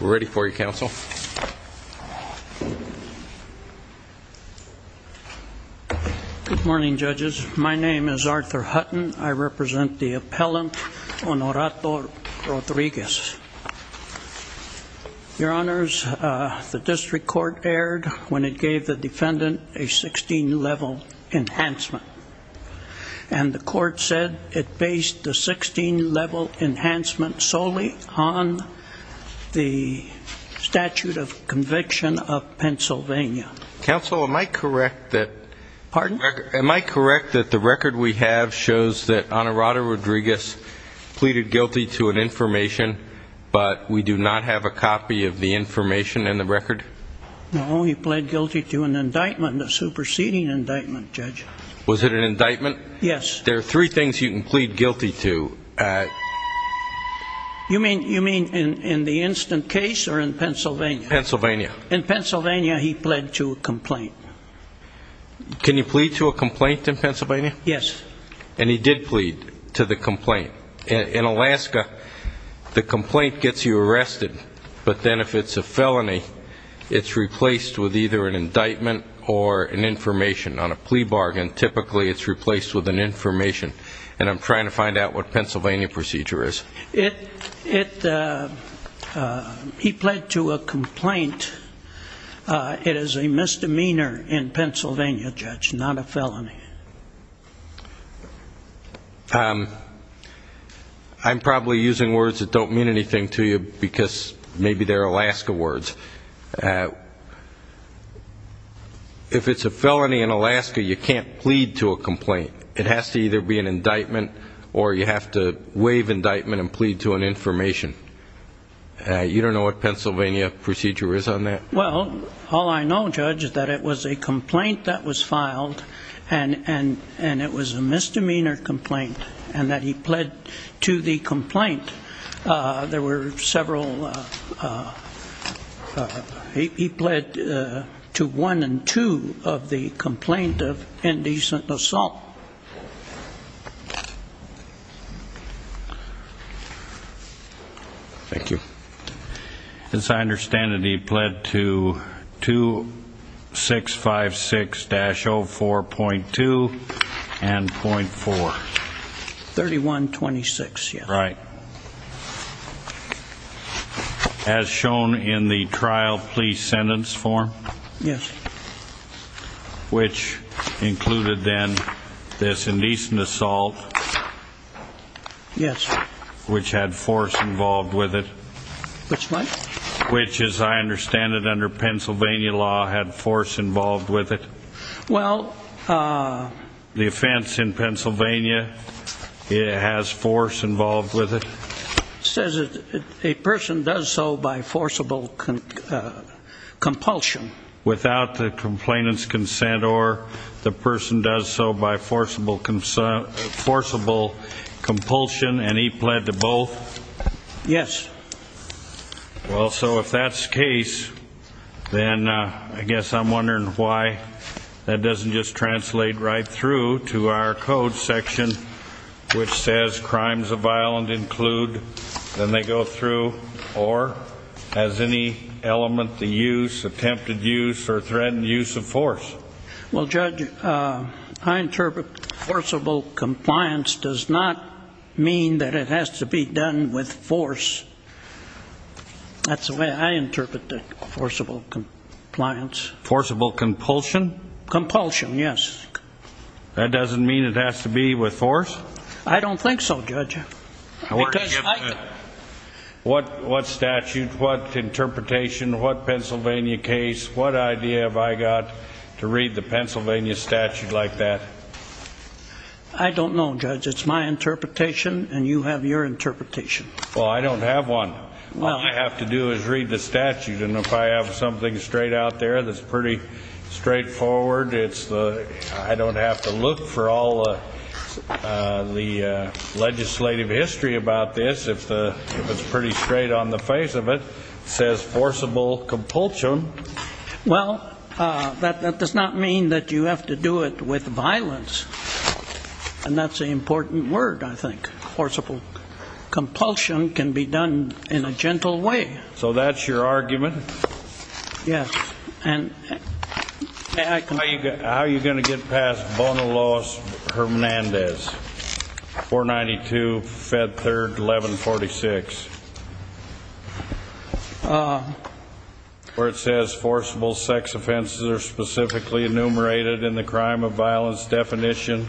We're ready for you, counsel. Good morning, judges. My name is Arthur Hutton. I represent the appellant Honorato-Rodriguez. Your honors, the district court erred when it gave the defendant a 16-level enhancement. And the court said it based the 16-level enhancement solely on the statute of conviction of Pennsylvania. Counsel, am I correct that the record we have shows that Honorato-Rodriguez pleaded guilty to an information, but we do not have a copy of the information in the record? No, he pled guilty to an indictment, a superseding indictment, judge. Was it an indictment? Yes. There are three things you can plead guilty to. You mean in the instant case or in Pennsylvania? Pennsylvania. In Pennsylvania, he pled to a complaint. Can you plead to a complaint in Pennsylvania? Yes. And he did plead to the complaint. In Alaska, the complaint gets you arrested, but then if it's a felony, it's replaced with either an indictment or an information on a plea bargain. Typically, it's replaced with an information, and I'm trying to find out what Pennsylvania procedure is. He pled to a complaint. It is a misdemeanor in Pennsylvania, judge, not a felony. I'm probably using words that don't mean anything to you because maybe they're Alaska words. If it's a felony in Alaska, you can't plead to a complaint. It has to either be an indictment or you have to waive indictment and plead to an information. You don't know what Pennsylvania procedure is on that? Well, all I know, judge, is that it was a complaint that was filed, and it was a misdemeanor complaint, and that he pled to the complaint. There were several. He pled to one and two of the complaint of indecent assault. Thank you. As I understand it, he pled to 2656-04.2 and .4. 3126, yes. Right. As shown in the trial plea sentence form. Yes. Which included, then, this indecent assault. Yes. Which had force involved with it. Which what? Which, as I understand it under Pennsylvania law, had force involved with it. Well... The offense in Pennsylvania has force involved with it. Says a person does so by forcible compulsion. Without the complainant's consent, or the person does so by forcible compulsion, and he pled to both? Yes. Well, so if that's the case, then I guess I'm wondering why that doesn't just translate right through to our code section, which says crimes of violence include. Then they go through, or as any element, the use, attempted use, or threatened use of force. Well, Judge, I interpret forcible compliance does not mean that it has to be done with force. That's the way I interpret the forcible compliance. Forcible compulsion? Compulsion, yes. That doesn't mean it has to be with force? I don't think so, Judge. Because I... What statute, what interpretation, what Pennsylvania case, what idea have I got to read the Pennsylvania statute like that? I don't know, Judge. It's my interpretation, and you have your interpretation. Well, I don't have one. All I have to do is read the statute, and if I have something straight out there that's pretty straightforward, it's the... if it's pretty straight on the face of it, it says forcible compulsion. Well, that does not mean that you have to do it with violence. And that's an important word, I think. Forcible compulsion can be done in a gentle way. So that's your argument? Yes. And I can... How are you going to get past Bonaloz-Hernandez, 492, Fed 3rd, 1146? Where it says forcible sex offenses are specifically enumerated in the crime of violence definition.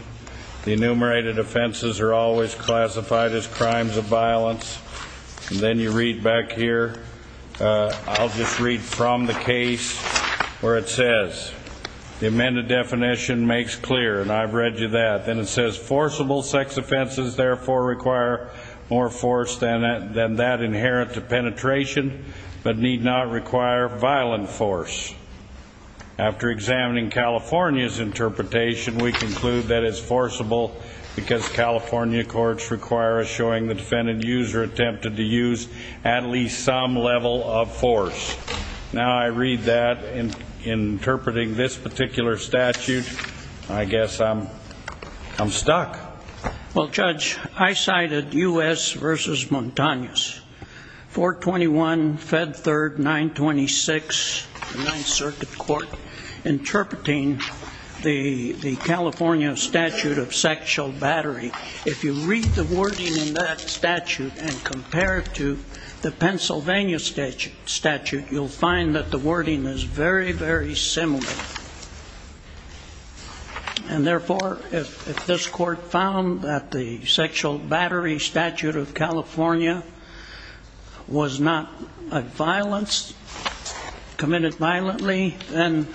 The enumerated offenses are always classified as crimes of violence. And then you read back here. I'll just read from the case where it says the amended definition makes clear, and I've read you that. Then it says forcible sex offenses therefore require more force than that inherent to penetration, but need not require violent force. After examining California's interpretation, we conclude that it's forcible because California courts require us showing the defendant used or attempted to use at least some level of force. Now I read that interpreting this particular statute, I guess I'm stuck. Well, Judge, I cited U.S. v. Montanez, 421, Fed 3rd, 926, 9th Circuit Court, interpreting the California statute of sexual battery. If you read the wording in that statute and compare it to the Pennsylvania statute, you'll find that the wording is very, very similar. And therefore, if this court found that the sexual battery statute of California was not a violence, committed violently, then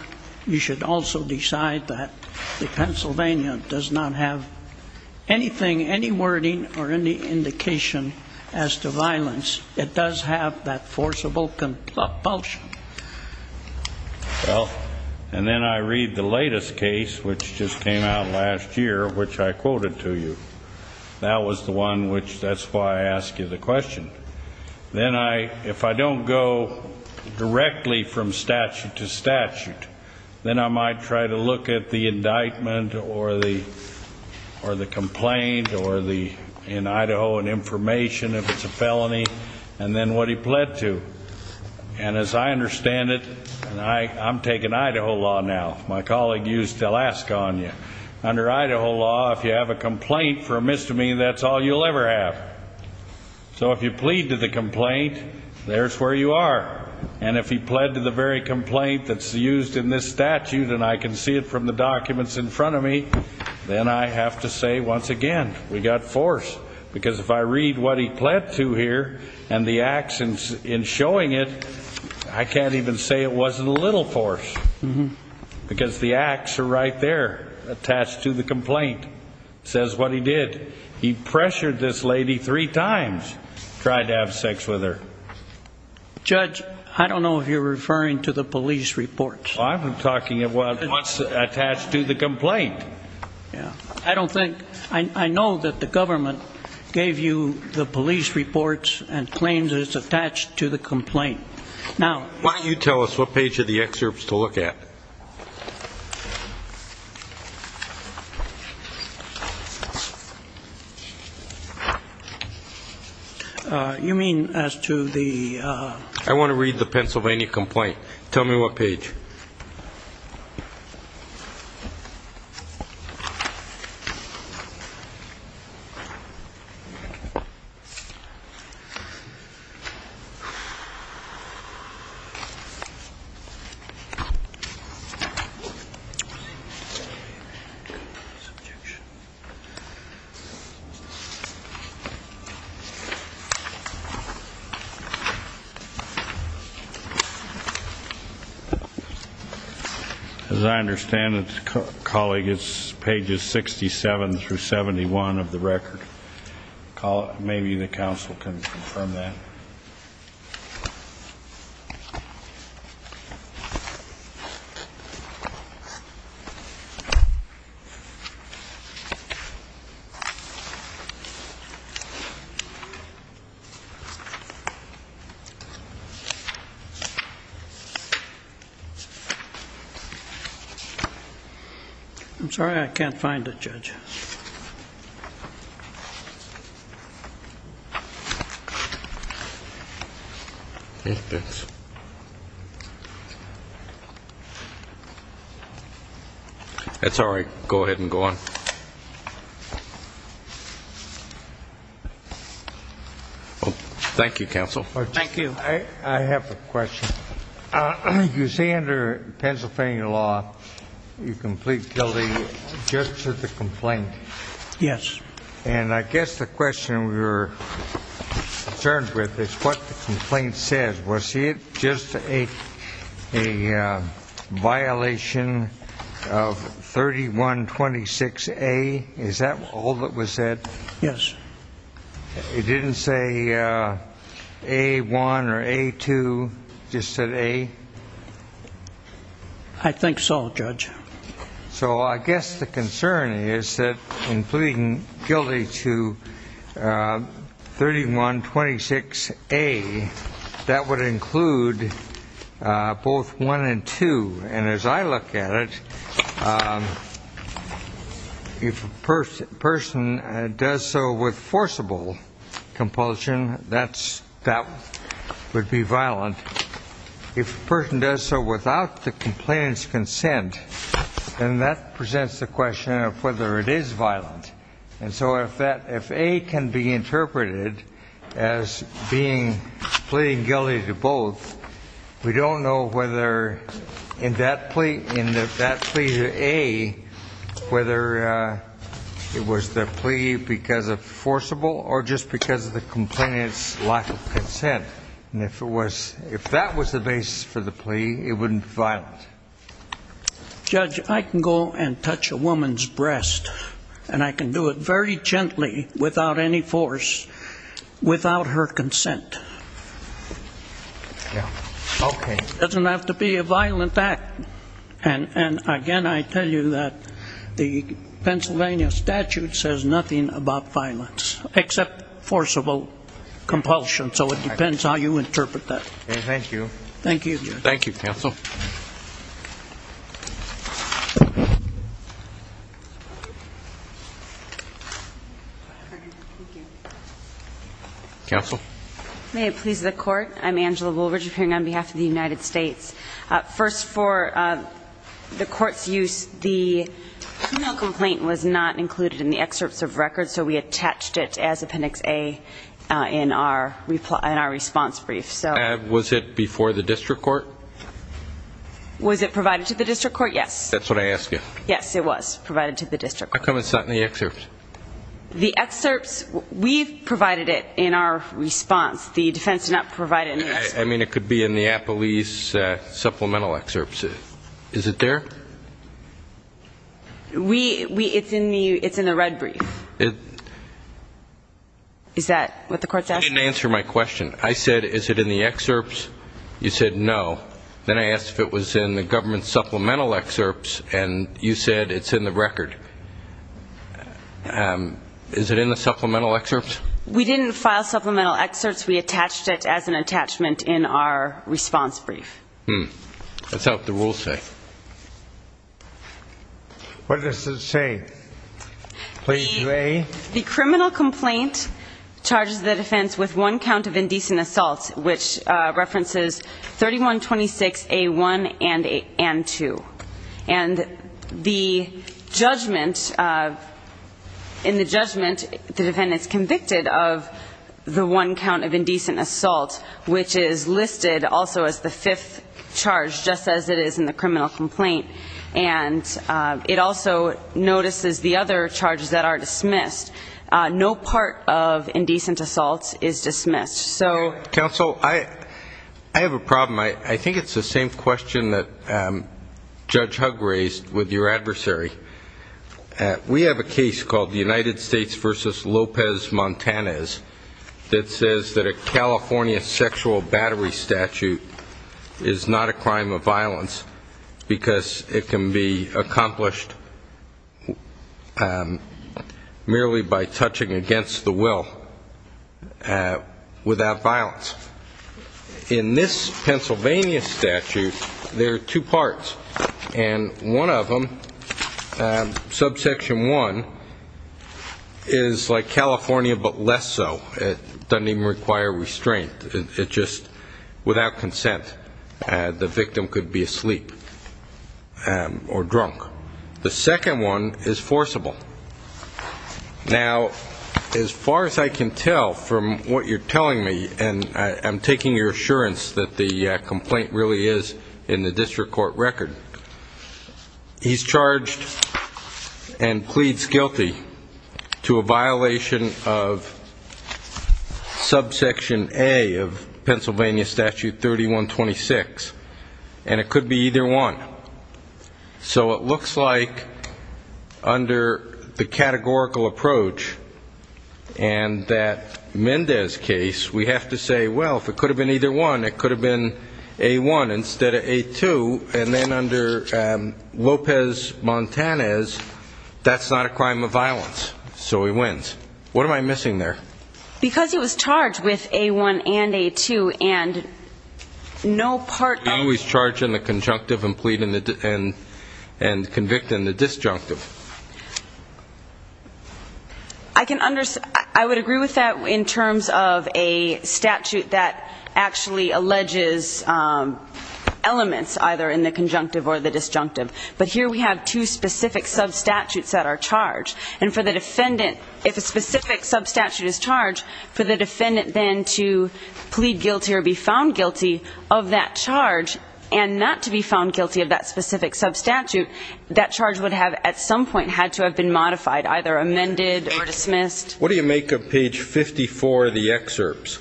you should also decide that the Pennsylvania does not have anything, any wording or any indication as to violence. It does have that forcible compulsion. Well, and then I read the latest case, which just came out last year, which I quoted to you. That was the one which, that's why I ask you the question. Then I, if I don't go directly from statute to statute, then I might try to look at the indictment or the complaint or the, in Idaho, an information if it's a felony, and then what he pled to. And as I understand it, and I, I'm taking Idaho law now, my colleague used Alaska on you. Under Idaho law, if you have a complaint for a misdemeanor, that's all you'll ever have. So if you plead to the complaint, there's where you are. And if he pled to the very complaint that's used in this statute, and I can see it from the documents in front of me, then I have to say once again, we got force. Because if I read what he pled to here, and the actions in showing it, I can't even say it wasn't a little force. Because the acts are right there, attached to the complaint. Says what he did. He pressured this lady three times. Tried to have sex with her. Judge, I don't know if you're referring to the police reports. I'm talking about what's attached to the complaint. I don't think, I know that the government gave you the police reports and claims that it's attached to the complaint. Now. Why don't you tell us what page of the excerpt to look at. You mean as to the. I want to read the Pennsylvania complaint. Tell me what page. As I understand it. Colleague, it's pages 67 through 71 of the record. Maybe the counsel can confirm that. I'm sorry, I can't find it, Judge. It's all right. Go ahead and go on. Thank you, counsel. Thank you. I have a question. You say under Pennsylvania law, you complete guilty just to the complaint. Yes. And I guess the question we were concerned with is what the complaint says. Was it just a violation of 3126A? Is that all that was said? Yes. It didn't say A1 or A2, just said A? I think so, Judge. So I guess the concern is that in pleading guilty to 3126A, that would include both one and two. And as I look at it, if a person does so with forcible compulsion, that would be violent. If a person does so without the complainant's consent, then that presents the question of whether it is violent. And so if A can be interpreted as pleading guilty to both, we don't know whether in that plea to A, whether it was the plea because of forcible or just because of the complainant's lack of consent. And if that was the basis for the plea, it wouldn't be violent. Judge, I can go and touch a woman's breast, and I can do it very gently, without any force, without her consent. Okay. It doesn't have to be a violent act. And, again, I tell you that the Pennsylvania statute says nothing about violence except forcible compulsion. So it depends how you interpret that. Thank you. Thank you, Judge. Thank you, counsel. May it please the Court. I'm Angela Woolridge, appearing on behalf of the United States. First, for the Court's use, the female complainant was not included in the excerpts of record, so we attached it as Appendix A in our response brief. Was it before the district court? Was it provided to the district court? Yes. That's what I asked you. Yes, it was provided to the district court. How come it's not in the excerpts? The excerpts, we've provided it in our response. The defense did not provide it in the excerpts. I mean, it could be in the Appellee's supplemental excerpts. Is it there? It's in the red brief. Is that what the Court's asking? I didn't answer my question. I said, is it in the excerpts? You said no. Then I asked if it was in the government's supplemental excerpts, and you said it's in the record. Is it in the supplemental excerpts? We didn't file supplemental excerpts. We attached it as an attachment in our response brief. Hmm. That's not what the rules say. What does it say? The criminal complaint charges the defense with one count of indecent assault, which references 3126A1 and 2. And the judgment, in the judgment, the defendant's convicted of the one count of indecent assault, which is listed also as the fifth charge, just as it is in the criminal complaint. And it also notices the other charges that are dismissed. No part of indecent assault is dismissed. Counsel, I have a problem. I think it's the same question that Judge Hugg raised with your adversary. We have a case called the United States v. Lopez-Montanez that says that a California sexual battery statute is not a crime of violence because it can be accomplished merely by touching against the will without violence. In this Pennsylvania statute, there are two parts, and one of them, subsection 1, is like California but less so. It doesn't even require restraint. It just, without consent, the victim could be asleep or drunk. The second one is forcible. Now, as far as I can tell from what you're telling me, and I'm taking your assurance that the complaint really is in the district court record, he's charged and pleads guilty to a violation of subsection A of Pennsylvania statute 3126, and it could be either one. So it looks like under the categorical approach and that Mendez case, we have to say, well, if it could have been either one, it could have been A1 instead of A2, and then under Lopez-Montanez, that's not a crime of violence, so he wins. What am I missing there? Because he was charged with A1 and A2, and no part of the... He was charged in the conjunctive and convicted in the disjunctive. I would agree with that in terms of a statute that actually alleges elements, either in the conjunctive or the disjunctive. But here we have two specific substatutes that are charged. And for the defendant, if a specific substatute is charged, for the defendant then to plead guilty or be found guilty of that charge and not to be found guilty of that specific substatute, that charge would have at some point had to have been modified, either amended or dismissed. What do you make of page 54 of the excerpts?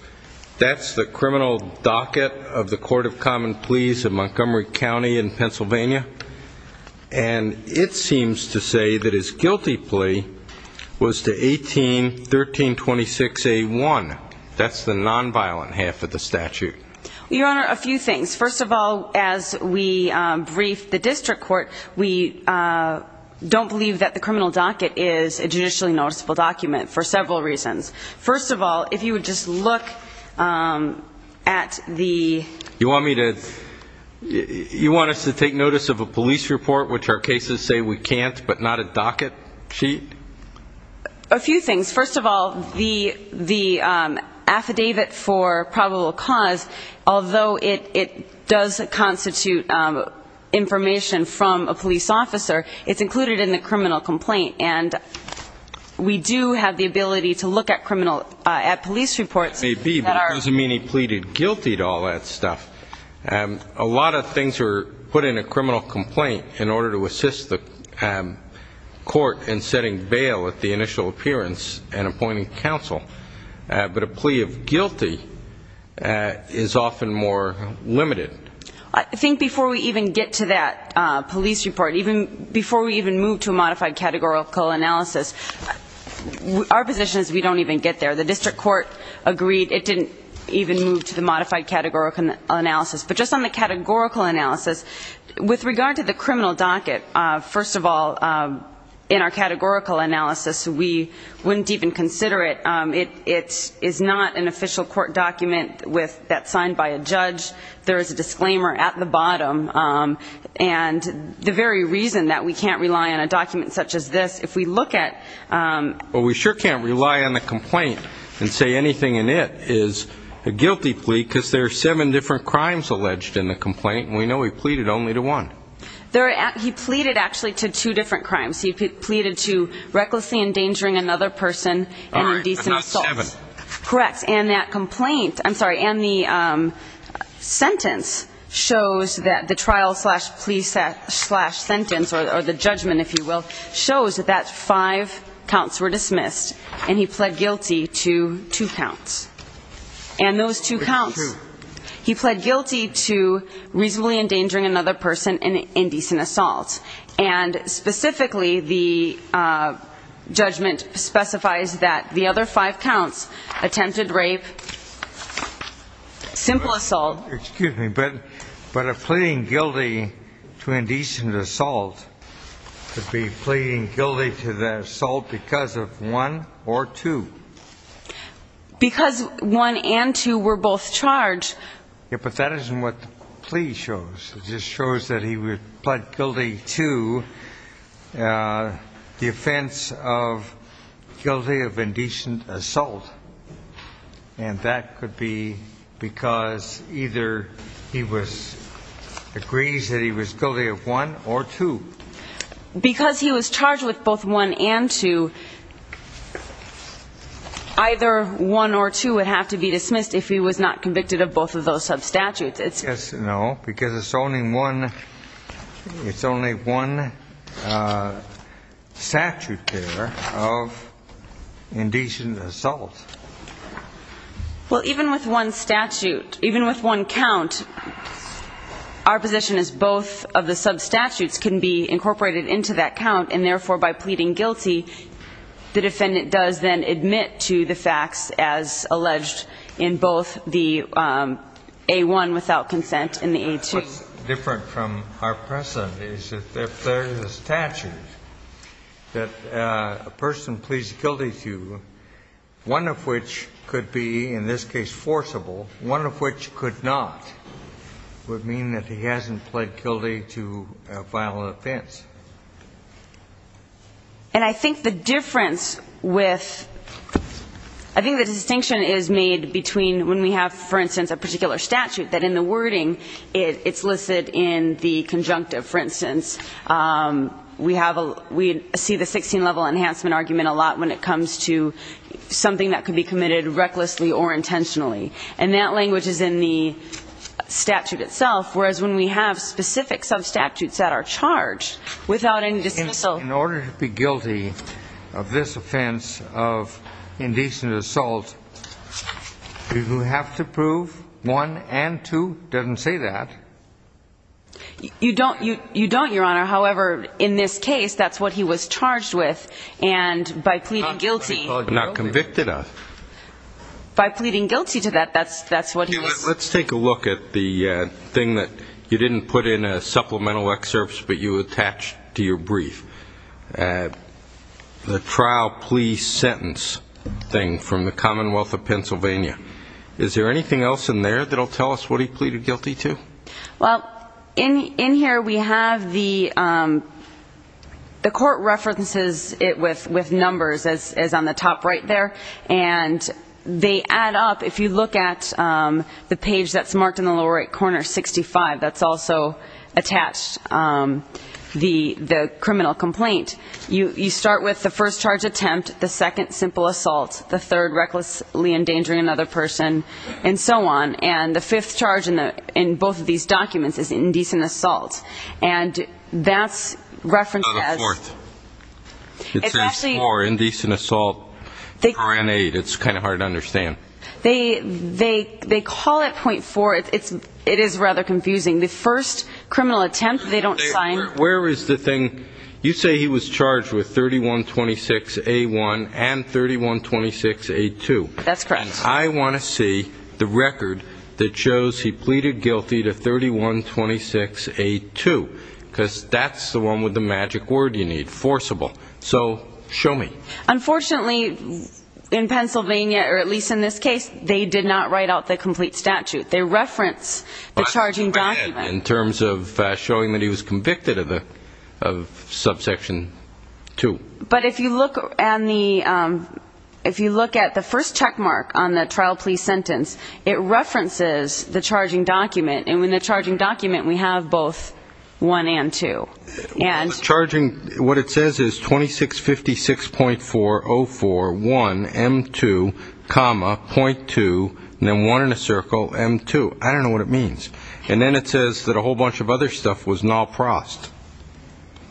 That's the criminal docket of the Court of Common Pleas in Montgomery County in Pennsylvania, and it seems to say that his guilty plea was to 18-1326A1. That's the nonviolent half of the statute. Your Honor, a few things. First of all, as we brief the district court, we don't believe that the criminal docket is a judicially noticeable document for several reasons. First of all, if you would just look at the... You want us to take notice of a police report, which our cases say we can't, but not a docket sheet? A few things. First of all, the affidavit for probable cause, although it does constitute information from a police officer, it's included in the criminal complaint, and we do have the ability to look at police reports that are... Maybe, but it doesn't mean he pleaded guilty to all that stuff. A lot of things are put in a criminal complaint in order to assist the court in setting bail at the initial appearance and appointing counsel, but a plea of guilty is often more limited. I think before we even get to that police report, even before we even move to a modified categorical analysis, our position is we don't even get there. The district court agreed it didn't even move to the modified categorical analysis. But just on the categorical analysis, with regard to the criminal docket, first of all, in our categorical analysis, we wouldn't even consider it. It is not an official court document that's signed by a judge. There is a disclaimer at the bottom. And the very reason that we can't rely on a document such as this, if we look at... and say anything in it is a guilty plea because there are seven different crimes alleged in the complaint, and we know he pleaded only to one. He pleaded, actually, to two different crimes. He pleaded to recklessly endangering another person and indecent assaults. All right, but not seven. Correct. And that complaint, I'm sorry, and the sentence shows that the trial-slash-plea-slash sentence, or the judgment, if you will, shows that that five counts were dismissed, and he pled guilty to two counts. And those two counts, he pled guilty to reasonably endangering another person and indecent assaults. And specifically, the judgment specifies that the other five counts, attempted rape, simple assault. Excuse me, but a pleading guilty to indecent assault could be pleading guilty to the assault because of one or two. Because one and two were both charged. Yeah, but that isn't what the plea shows. It just shows that he pled guilty to the offense of guilty of indecent assault. And that could be because either he agrees that he was guilty of one or two. Because he was charged with both one and two, either one or two would have to be dismissed if he was not convicted of both of those substatutes. No, because it's only one statute there of indecent assault. Well, even with one statute, even with one count, our position is both of the substatutes can be incorporated into that count. And therefore, by pleading guilty, the defendant does then admit to the facts, as alleged in both the A-1 without consent and the A-2. What's different from our precedent is if there is a statute that a person pleads guilty to one of which could be, in this case, forcible, one of which could not would mean that he hasn't pled guilty to a violent offense. And I think the difference with the distinction is made between when we have, for instance, a particular statute that in the wording it's listed in the conjunctive, for instance. We see the 16-level enhancement argument a lot when it comes to something that can be committed recklessly or intentionally. And that language is in the statute itself, whereas when we have specific substatutes that are charged without any dismissal. In order to be guilty of this offense of indecent assault, do you have to prove one and two doesn't say that? You don't, Your Honor. However, in this case, that's what he was charged with. And by pleading guilty. Not convicted of. By pleading guilty to that, that's what he was. Let's take a look at the thing that you didn't put in supplemental excerpts, but you attached to your brief. The trial plea sentence thing from the Commonwealth of Pennsylvania. Is there anything else in there that will tell us what he pleaded guilty to? Well, in here we have the court references it with numbers, as on the top right there. And they add up. If you look at the page that's marked in the lower right corner, 65, that's also attached the criminal complaint. You start with the first charge attempt, the second simple assault, the third recklessly endangering another person, and so on. And the fifth charge in both of these documents is indecent assault. And that's referenced as the fourth. It says four, indecent assault. It's kind of hard to understand. They call it .4. It is rather confusing. The first criminal attempt, they don't sign. Where is the thing? You say he was charged with 3126A1 and 3126A2. That's correct. I want to see the record that shows he pleaded guilty to 3126A2, because that's the one with the magic word you need, forcible. So show me. Unfortunately, in Pennsylvania, or at least in this case, they did not write out the complete statute. They reference the charging document. In terms of showing that he was convicted of subsection 2. But if you look at the first check mark on the trial plea sentence, it references the charging document. And in the charging document, we have both 1 and 2. What it says is 2656.404.1M2, .2, and then 1 in a circle, M2. I don't know what it means. And then it says that a whole bunch of other stuff was not crossed.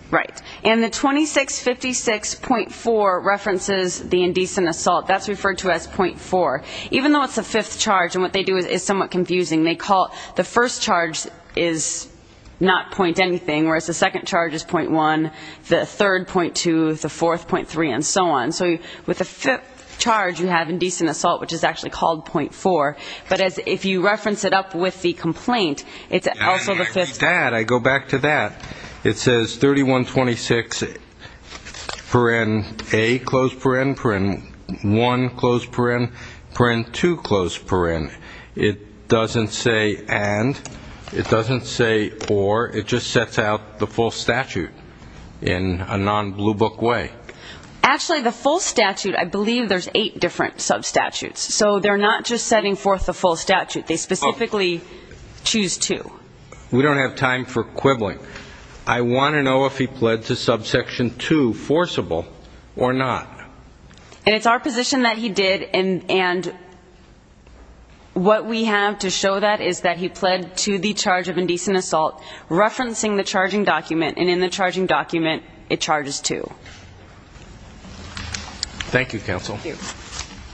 Right. And the 2656.4 references the indecent assault. That's referred to as .4. Even though it's the fifth charge, and what they do is somewhat confusing, the first charge is not point anything, whereas the second charge is .1, the third .2, the fourth .3, and so on. So with the fifth charge, you have indecent assault, which is actually called .4. But if you reference it up with the complaint, it's also the fifth. I read that. I go back to that. It says 3126. A, 1, 2. It doesn't say and. It doesn't say or. It just sets out the full statute in a non-Blue Book way. Actually, the full statute, I believe there's eight different substatutes. So they're not just setting forth the full statute. They specifically choose two. We don't have time for quibbling. I want to know if he pled to subsection 2, forcible, or not. And it's our position that he did, and what we have to show that is that he pled to the charge of indecent assault, referencing the charging document, and in the charging document, it charges two. Thank you, counsel. Thank you. Thank you. Thank you very much.